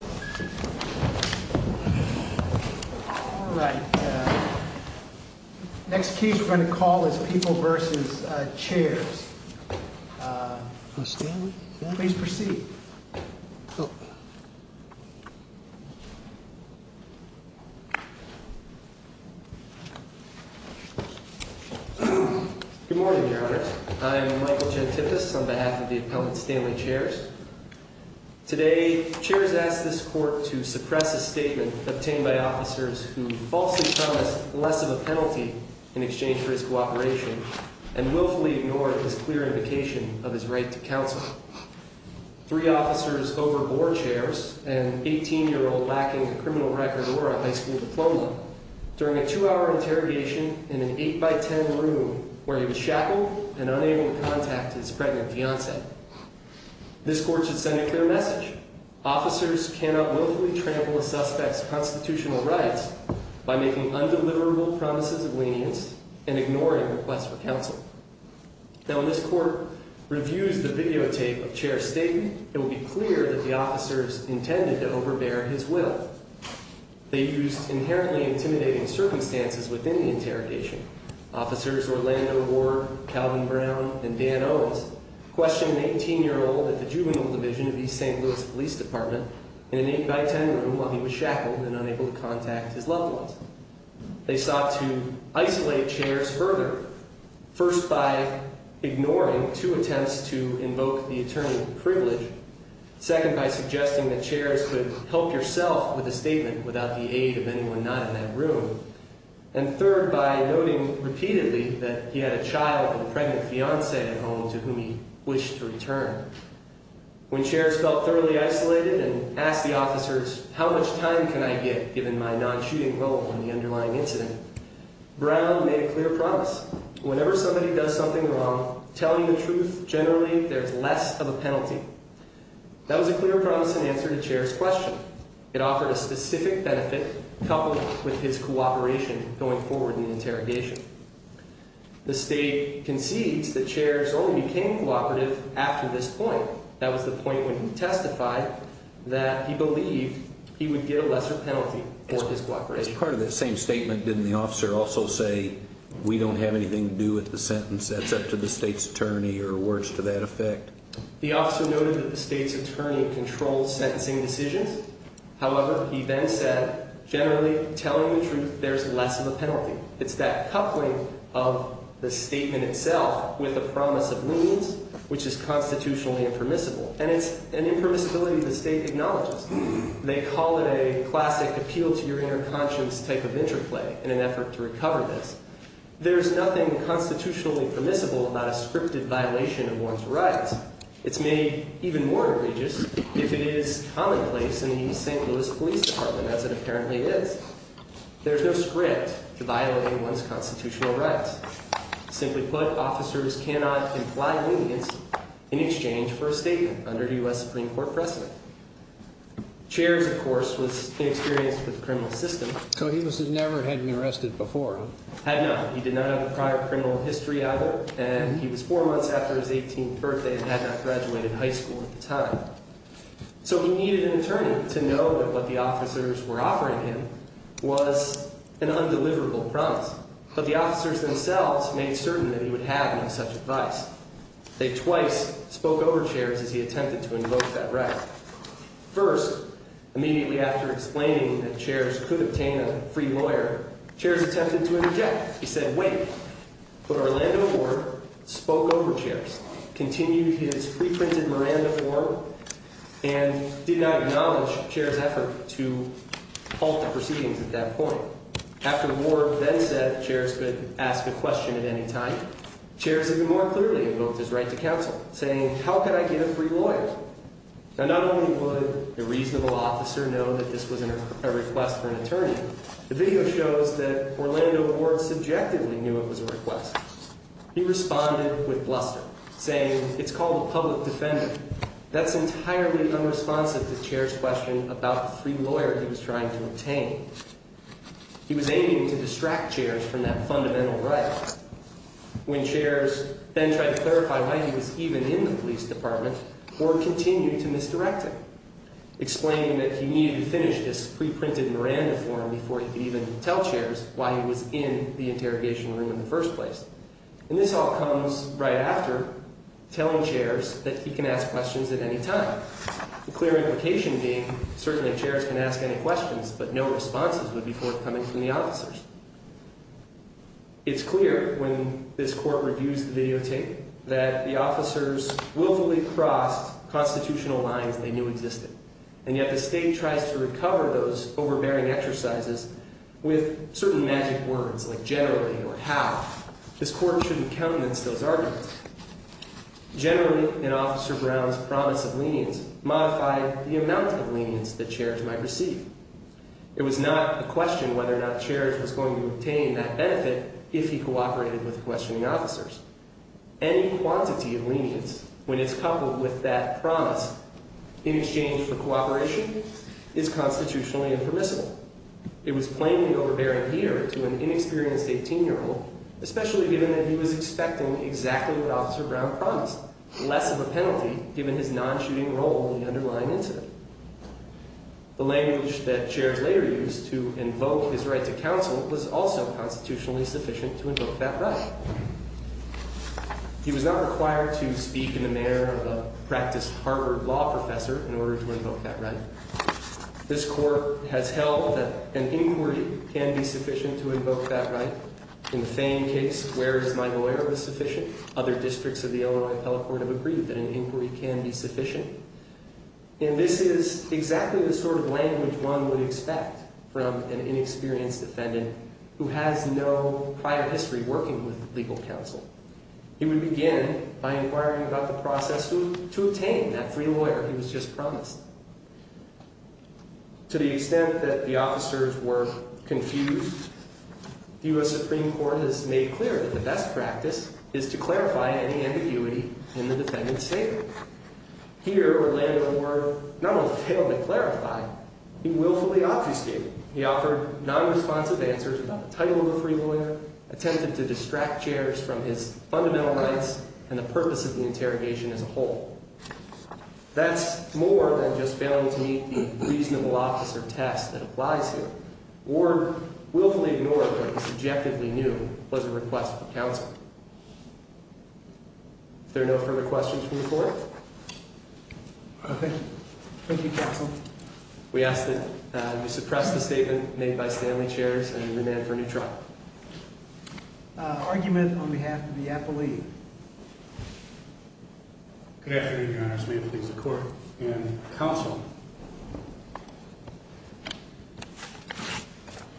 Good morning Your Honors, I am Michael Gentipas on behalf of the Appellant Stanley Chairs. Today, Chairs asked this Court to suppress a statement obtained by officers who falsely promised less of a penalty in exchange for his cooperation, and willfully ignored his clear indication of his right to counsel. Three officers overboard, Chairs, an 18-year-old lacking a criminal record or a high school diploma, during a two-hour interrogation in an 8-by-10 room where he was shackled and unable to contact his pregnant fiancée. This Court should send a clear message. Officers cannot willfully trample a suspect's constitutional rights by making undeliverable promises of lenience and ignoring requests for counsel. When this Court reviews the videotape of Chairs' statement, it will be clear that the officers intended to overbear his will. They used inherently intimidating circumstances within the interrogation. Officers Orlando Ward, Calvin Brown, and Dan Owens questioned an 18-year-old at the Juvenile Division of East St. Louis Police Department in an 8-by-10 room while he was shackled and unable to contact his loved ones. They sought to isolate Chairs further, first by ignoring two attempts to invoke the attorney of privilege, second by suggesting that Chairs could help yourself with a statement without the aid of anyone not in that room, and third by noting repeatedly that he had a child and pregnant fiancée at home to whom he wished to return. When Chairs felt thoroughly isolated and asked the officers, how much time can I get given my non-shooting role in the underlying incident, Brown made a clear promise, whenever somebody does something wrong, tell me the truth, generally there's less of a penalty. That was a clear, promising answer to Chairs' question. It offered a specific benefit coupled with his cooperation going forward in the interrogation. The state concedes that Chairs only became cooperative after this point. That was the point when he testified that he believed he would get a lesser penalty for his cooperation. As part of that same statement, didn't the officer also say, we don't have anything to do with the sentence, that's up to the state's attorney, or words to that effect? The officer noted that the state's attorney controlled sentencing decisions. However, he then said, generally, telling the truth, there's less of a penalty. It's that coupling of the statement itself with a promise of means, which is constitutionally impermissible. And it's an impermissibility the state acknowledges. They call it a classic appeal to your inner conscience type of interplay in an effort to recover this. There's nothing constitutionally permissible about a scripted violation of one's rights. It's made even more egregious if it is commonplace in the St. Louis Police Department, as it apparently is. There's no script to violate one's constitutional rights. Simply put, officers cannot imply leniency in exchange for a statement under U.S. Supreme Court precedent. Chairs, of course, was inexperienced with the criminal system. So he never had been arrested before? Had not. He did not have a prior criminal history at all. And he was four months after his 18th birthday and had not graduated high school at the time. So he needed an attorney to know that what the officers were offering him was an undeliverable promise. But the officers themselves made certain that he would have no such advice. They twice spoke over chairs as he attempted to invoke that right. First, immediately after explaining that chairs could obtain a free lawyer, chairs attempted to interject. He said, wait, put Orlando aboard, spoke over chairs, continued his preprinted Miranda form, and did not acknowledge chairs' effort to halt the proceedings at that point. After Ward then said chairs could ask a question at any time, chairs even more clearly invoked his right to counsel, saying, how can I get a free lawyer? Now, not only would a reasonable officer know that this was a request for an attorney, the video shows that Orlando Ward subjectively knew it was a request. He responded with bluster, saying, it's called a public defender. That's entirely unresponsive to chairs' question about the free lawyer he was trying to obtain. He was aiming to distract chairs from that fundamental right. When chairs then tried to clarify why he was even in the police department, Ward continued to misdirect him, explaining that he needed to finish this preprinted Miranda form before he could even tell chairs why he was in the interrogation room in the first place. And this all comes right after telling chairs that he can ask questions at any time. The clear implication being, certainly chairs can ask any questions, but no responses would be forthcoming from the officers. It's clear, when this court reviews the videotape, that the officers willfully crossed constitutional lines they knew existed. And yet the state tries to recover those overbearing exercises with certain magic words, like generally or how. This court shouldn't countenance those arguments. Generally, in Officer Brown's promise of lenience, modified the amount of lenience that chairs might receive. It was not a question whether or not chairs was going to obtain that benefit if he cooperated with questioning officers. Any quantity of lenience, when it's coupled with that promise in exchange for cooperation, is constitutionally impermissible. It was plainly overbearing here to an inexperienced 18-year-old, especially given that he was expecting exactly what Officer Brown promised, less of a penalty given his non-shooting role in the underlying incident. The language that chairs later used to invoke his right to counsel was also constitutionally sufficient to invoke that right. He was not required to speak in the manner of a practiced Harvard law professor in order to invoke that right. This court has held that an inquiry can be sufficient to invoke that right. In the Fane case, where his mind of error was sufficient, other districts of the Illinois and Pell Court have agreed that an inquiry can be sufficient. And this is exactly the sort of language one would expect from an inexperienced defendant who has no prior history working with legal counsel. He would begin by inquiring about the process to obtain that free lawyer he was just promised. To the extent that the officers were confused, the U.S. Supreme Court has made clear that the best practice is to clarify any ambiguity in the defendant's statement. Here, Orlando Ward not only failed to clarify, he willfully obfuscated. He offered non-responsive answers about the title of a free lawyer, attempted to distract chairs from his fundamental rights and the purpose of the interrogation as a whole. That's more than just failing to meet the reasonable officer test that applies here. Ward willfully ignored what he subjectively knew was a request for counsel. If there are no further questions, we'll move forward. Okay. Thank you, counsel. We ask that you suppress the statement made by Stanley Chairs and demand for a new trial. Argument on behalf of the appellee. Good afternoon, Your Honors. May it please the Court and counsel.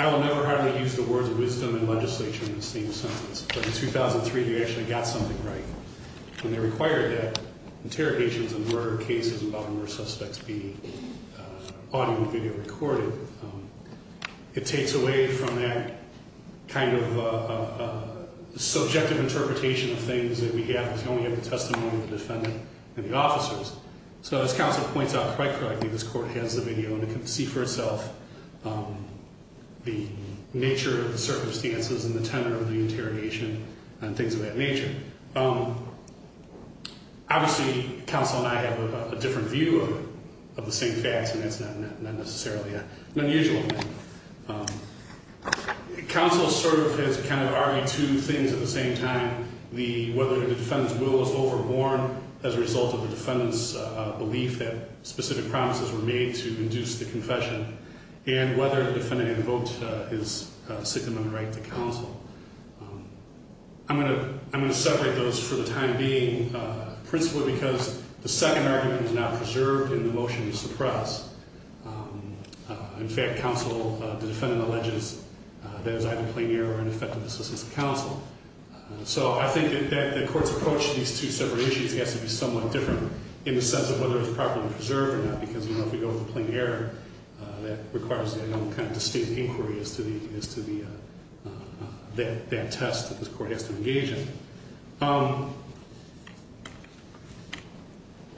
I will never hardly use the words wisdom and legislature in the same sentence. But in 2003, they actually got something right. When they required that interrogations and murder cases involving their suspects be audio and video recorded, it takes away from that kind of subjective interpretation of things that we have. We only have the testimony of the defendant and the officers. So as counsel points out quite correctly, this Court has the video and can see for itself the nature of the circumstances and the tenor of the interrogation and things of that nature. Obviously, counsel and I have a different view of the same facts, and that's not necessarily unusual. Counsel sort of has kind of argued two things at the same time. Whether the defendant's will is overworn as a result of the defendant's belief that specific promises were made to induce the confession and whether the defendant invoked his significant right to counsel. I'm going to separate those for the time being, principally because the second argument is now preserved in the motion to suppress. In fact, counsel, the defendant alleges that it was either plain error or ineffective assistance to counsel. So I think that the Court's approach to these two separate issues has to be somewhat different in the sense of whether it's properly preserved or not, because if we go with plain error, that requires a distinct inquiry as to that test that this Court has to engage in.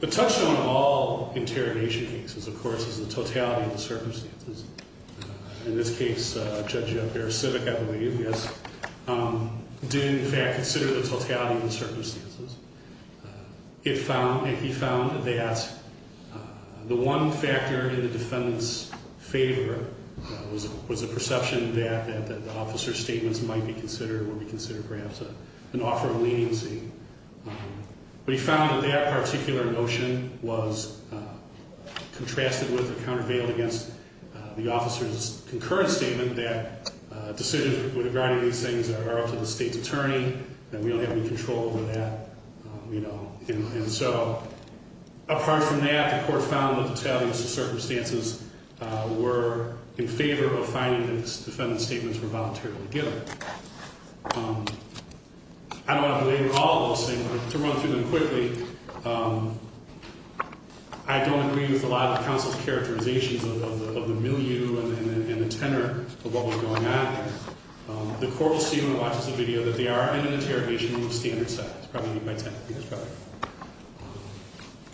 The touchstone of all interrogation cases, of course, is the totality of the circumstances. In this case, Judge Perisic, I believe, yes, did in fact consider the totality of the circumstances. He found that the one factor in the defendant's favor was a perception that the officer's statements might be considered, would be considered perhaps an offer of leniency. But he found that that particular notion was contrasted with or countervailed against the officer's concurrent statement that decisions regarding these things are up to the state's attorney and we don't have any control over that. And so apart from that, the Court found that the totality of the circumstances were in favor of finding that the defendant's statements were voluntarily given. I don't want to belabor all of those things, but to run through them quickly, I don't agree with a lot of the counsel's characterizations of the milieu and the tenor of what was going on. The Court will see when it watches the video that they are in an interrogation in the standard setting. It's probably by 10. Yes, probably.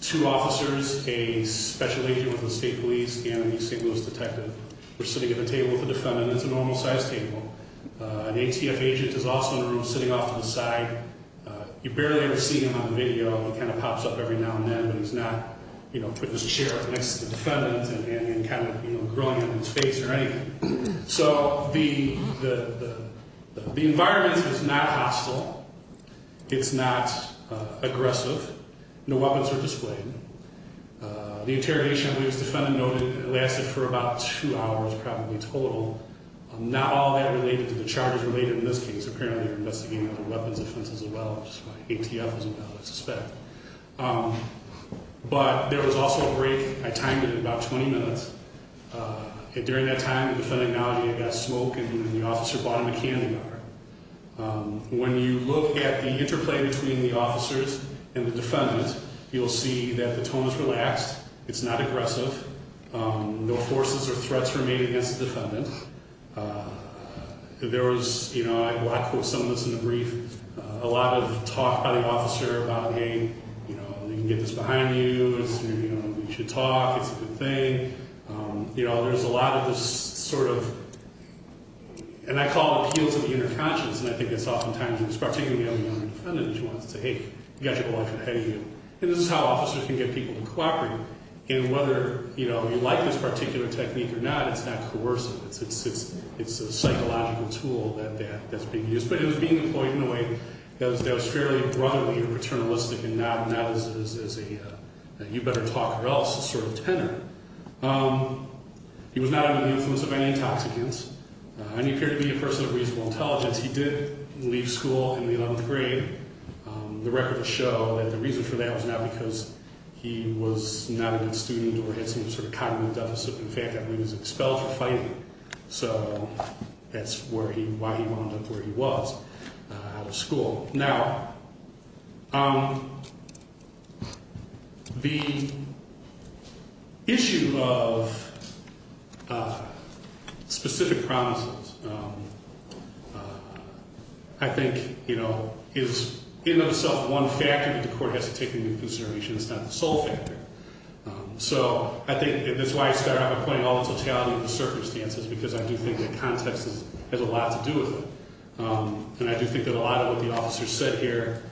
Two officers, a special agent with the state police, and a single-use detective were sitting at the table with the defendant. It's a normal-sized table. An ATF agent is also in the room sitting off to the side. You barely ever see him on the video. He kind of pops up every now and then, but he's not, you know, putting his chair up next to the defendant and kind of, you know, grilling him in his face or anything. So the environment is not hostile. It's not aggressive. No weapons were displayed. The interrogation, as the defendant noted, lasted for about two hours probably total. Not all that related to the charges related in this case. Apparently, they were investigating other weapons offenses as well, which is why ATF was involved, I suspect. But there was also a break. I timed it at about 20 minutes. During that time, the defendant acknowledged he had got a smoke and the officer bought him a candy bar. When you look at the interplay between the officers and the defendant, you'll see that the tone is relaxed. It's not aggressive. No forces or threats were made against the defendant. There was, you know, I quote some of this in the brief, a lot of talk by the officer about, hey, you know, you can get this behind you. You should talk. It's a good thing. You know, there's a lot of this sort of, and I call it appeals of the inner conscience, and I think it's oftentimes, and it's particularly on the young defendant, she wants to say, hey, you've got your life ahead of you. And this is how officers can get people to cooperate. And whether, you know, you like this particular technique or not, it's not coercive. It's a psychological tool that's being used. But it was being employed in a way that was fairly brotherly and paternalistic and not as a you better talk or else sort of tenor. He was not under the influence of any intoxicants, and he appeared to be a person of reasonable intelligence. He did leave school in the 11th grade. The records show that the reason for that was not because he was not a good student or had some sort of cognitive deficit. In fact, I believe he was expelled for fighting. So that's where he, why he wound up where he was out of school. Now, the issue of specific promises, I think, you know, is in itself one factor that the court has to take into consideration. It's not the sole factor. So I think that's why I started out by putting all the totality of the circumstances, because I do think that context has a lot to do with it. And I do think that a lot of what the officer said here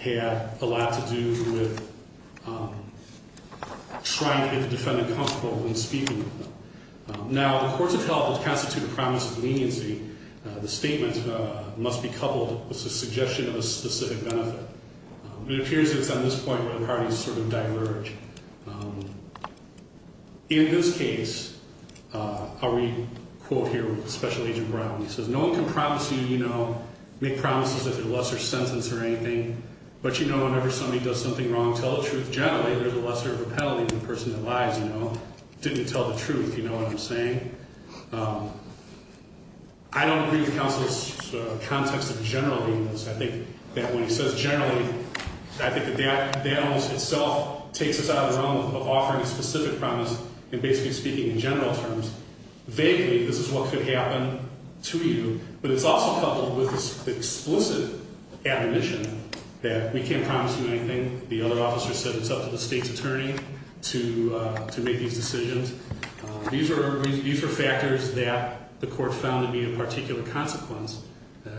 had a lot to do with trying to get the defendant comfortable in speaking with them. Now, the courts of health constitute a promise of leniency. The statement must be coupled with the suggestion of a specific benefit. It appears that it's on this point where the parties sort of diverge. In this case, I'll read a quote here with Special Agent Brown. He says, no one can promise you, you know, make promises if they're a lesser sentence or anything. But, you know, whenever somebody does something wrong, tell the truth. Generally, there's a lesser of a penalty than the person that lies, you know, didn't tell the truth. You know what I'm saying? I don't agree with counsel's context of generally. I think that when he says generally, I think that that almost itself takes us out of the realm of offering a specific promise and basically speaking in general terms. Vaguely, this is what could happen to you, but it's also coupled with this explicit admonition that we can't promise you anything. The other officer said it's up to the state's attorney to make these decisions. These are factors that the court found to be a particular consequence.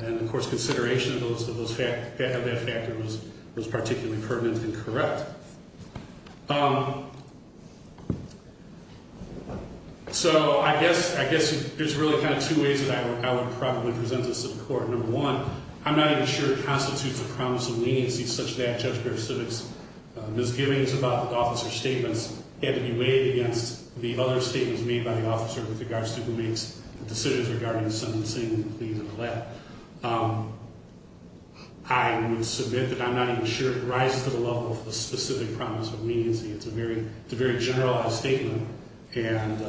And, of course, consideration of that factor was particularly pertinent and correct. So I guess there's really kind of two ways that I would probably present this to the court. Number one, I'm not even sure it constitutes a promise of leniency such that Judge Griff Sivitz' misgivings about the officer's statements had to be weighed against the other statements made by the officer with regards to who makes the decisions regarding the sentencing. I would submit that I'm not even sure it rises to the level of a specific promise of leniency. It's a very generalized statement. And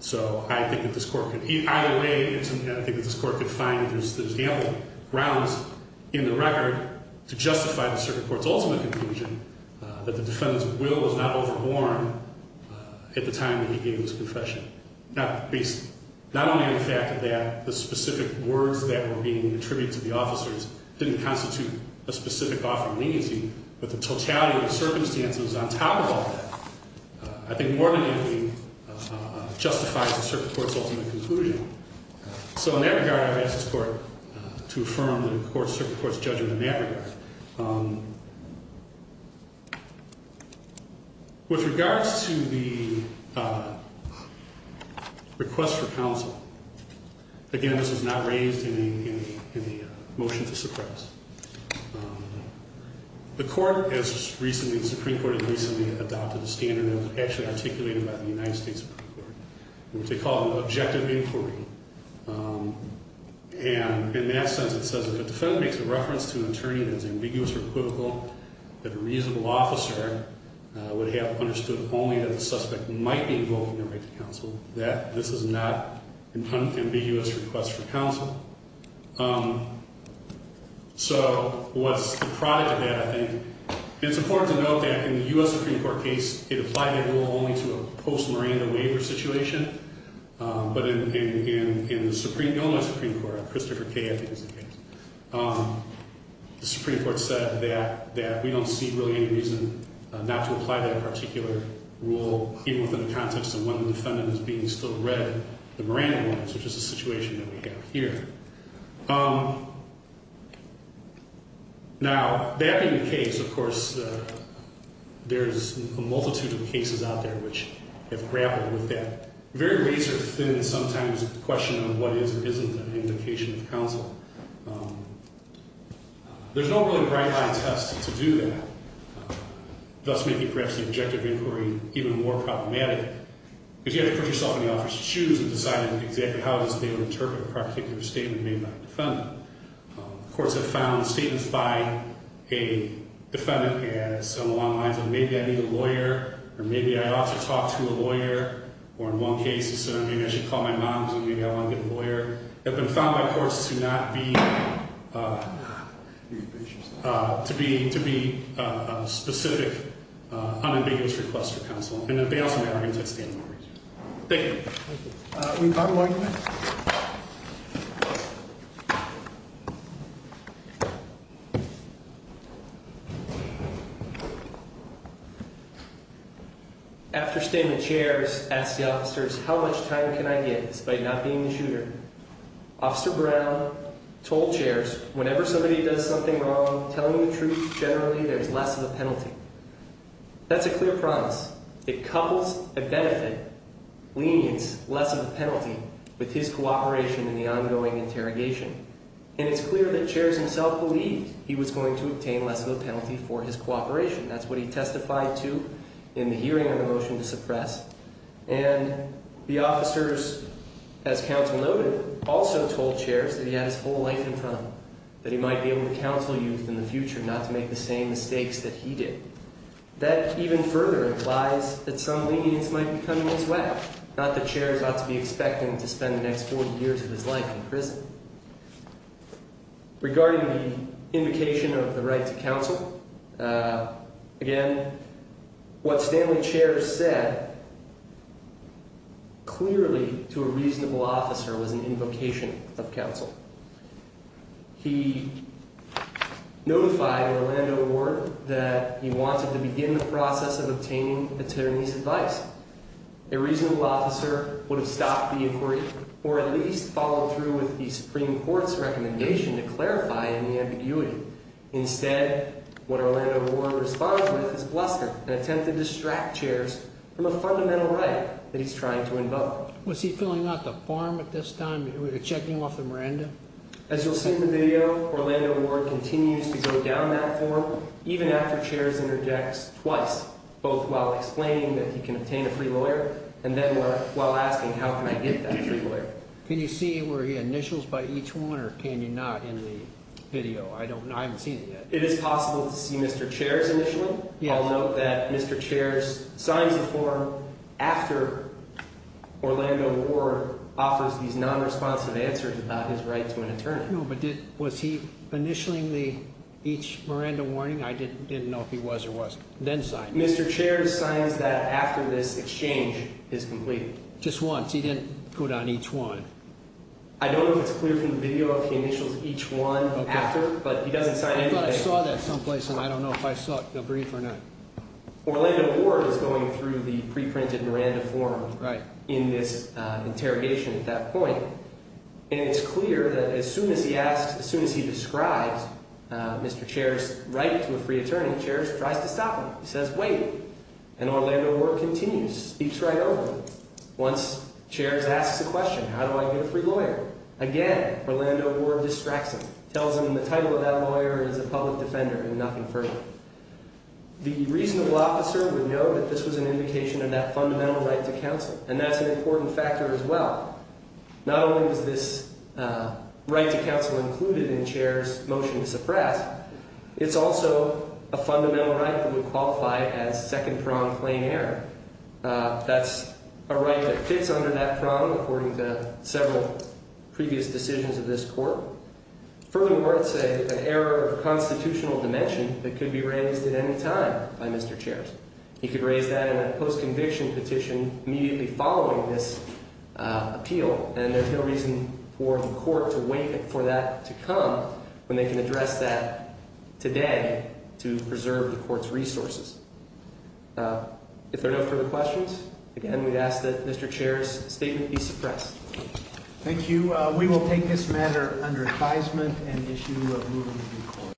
so I think that this court could either way, I think that this court could find that there's ample grounds in the record to justify the circuit court's ultimate conclusion that the defendant's will was not overborne at the time that he gave his confession. Not only the fact that the specific words that were being attributed to the officers didn't constitute a specific offer of leniency, but the totality of the circumstances on top of all that. I think more than anything justifies the circuit court's ultimate conclusion. So in that regard, I would ask this court to affirm the circuit court's judgment in that regard. With regards to the request for counsel, again, this was not raised in the motion to suppress. The court has recently, the Supreme Court has recently adopted a standard that was actually articulated by the United States Supreme Court, which they call objective inquiry. And in that sense, it says if a defendant makes a reference to an attorney that is ambiguous or equivocal, that a reasonable officer would have understood only that the suspect might be involved in the right to counsel, that this is not an ambiguous request for counsel. So what's the product of that, I think? It's important to note that in the U.S. Supreme Court case, it applied that rule only to a post-Miranda waiver situation. But in the Supreme, Illinois Supreme Court, Christopher Kaye, I think it was, the Supreme Court said that we don't see really any reason not to apply that particular rule even within the context of when the defendant is being still read the Miranda warrants, which is the situation that we have here. Now, that being the case, of course, there's a multitude of cases out there which have grappled with that very razor-thin sometimes question of what is or isn't an indication of counsel. There's no really bright-line test to do that, thus making perhaps the objective inquiry even more problematic. Because you have to put yourself in the officer's shoes and decide exactly how they would interpret a particular statement made by a defendant. Courts have found statements by a defendant as, along the lines of, maybe I need a lawyer, or maybe I ought to talk to a lawyer, or in one case, maybe I should call my mom because maybe I want to get a lawyer, have been found by courts to not be, to be a specific, unambiguous request for counsel. And that they also may not be a testament. Thank you. Thank you. We've got one more. After standing in chairs, asked the officers, how much time can I get despite not being the shooter? Officer Brown told chairs, whenever somebody does something wrong, telling the truth generally, there's less of a penalty. That's a clear promise. It couples a benefit, leads less of a penalty with his cooperation in the ongoing interrogation. And it's clear that chairs himself believed he was going to obtain less of a penalty for his cooperation. That's what he testified to in the hearing on the motion to suppress. And the officers, as counsel noted, also told chairs that he had his whole life in front of him. That he might be able to counsel youth in the future, not to make the same mistakes that he did. That even further implies that some lenience might be coming his way. Not that chairs ought to be expecting to spend the next 40 years of his life in prison. Regarding the invocation of the right to counsel, again, what Stanley Chairs said clearly to a reasonable officer was an invocation of counsel. He notified Orlando Ward that he wanted to begin the process of obtaining attorney's advice. A reasonable officer would have stopped the inquiry, or at least followed through with the Supreme Court's recommendation to clarify any ambiguity. Instead, what Orlando Ward responds with is bluster, an attempt to distract chairs from a fundamental right that he's trying to invoke. Was he filling out the form at this time? Were you checking off the Miranda? As you'll see in the video, Orlando Ward continues to go down that form, even after chairs interjects twice. Both while explaining that he can obtain a free lawyer, and then while asking, how can I get that free lawyer? Can you see where he initials by each one, or can you not in the video? I haven't seen it yet. It is possible to see Mr. Chairs initially. I'll note that Mr. Chairs signs the form after Orlando Ward offers these non-responsive answers about his right to an attorney. No, but was he initialing each Miranda warning? I didn't know if he was or wasn't. Then signed it. Mr. Chairs signs that after this exchange is complete. Just once. He didn't go down each one. I don't know if it's clear from the video if he initials each one after, but he doesn't sign anything. I thought I saw that someplace, and I don't know if I saw it in the brief or not. Orlando Ward is going through the pre-printed Miranda form in this interrogation at that point. And it's clear that as soon as he asks, as soon as he describes Mr. Chairs' right to a free attorney, Chairs tries to stop him. He says, wait. And Orlando Ward continues, speaks right over him. Once Chairs asks a question, how do I get a free lawyer? Again, Orlando Ward distracts him, tells him the title of that lawyer is a public defender and nothing further. The reasonable officer would know that this was an indication of that fundamental right to counsel, and that's an important factor as well. Not only was this right to counsel included in Chairs' motion to suppress, it's also a fundamental right that would qualify as second prong claim error. That's a right that fits under that prong according to several previous decisions of this court. Furthermore, it's an error of constitutional dimension that could be raised at any time by Mr. Chairs. He could raise that in a post-conviction petition immediately following this appeal, and there's no reason for the court to wait for that to come when they can address that today to preserve the court's resources. If there are no further questions, again, we ask that Mr. Chairs' statement be suppressed. Thank you. We will take this matter under advisement and issue a moving report.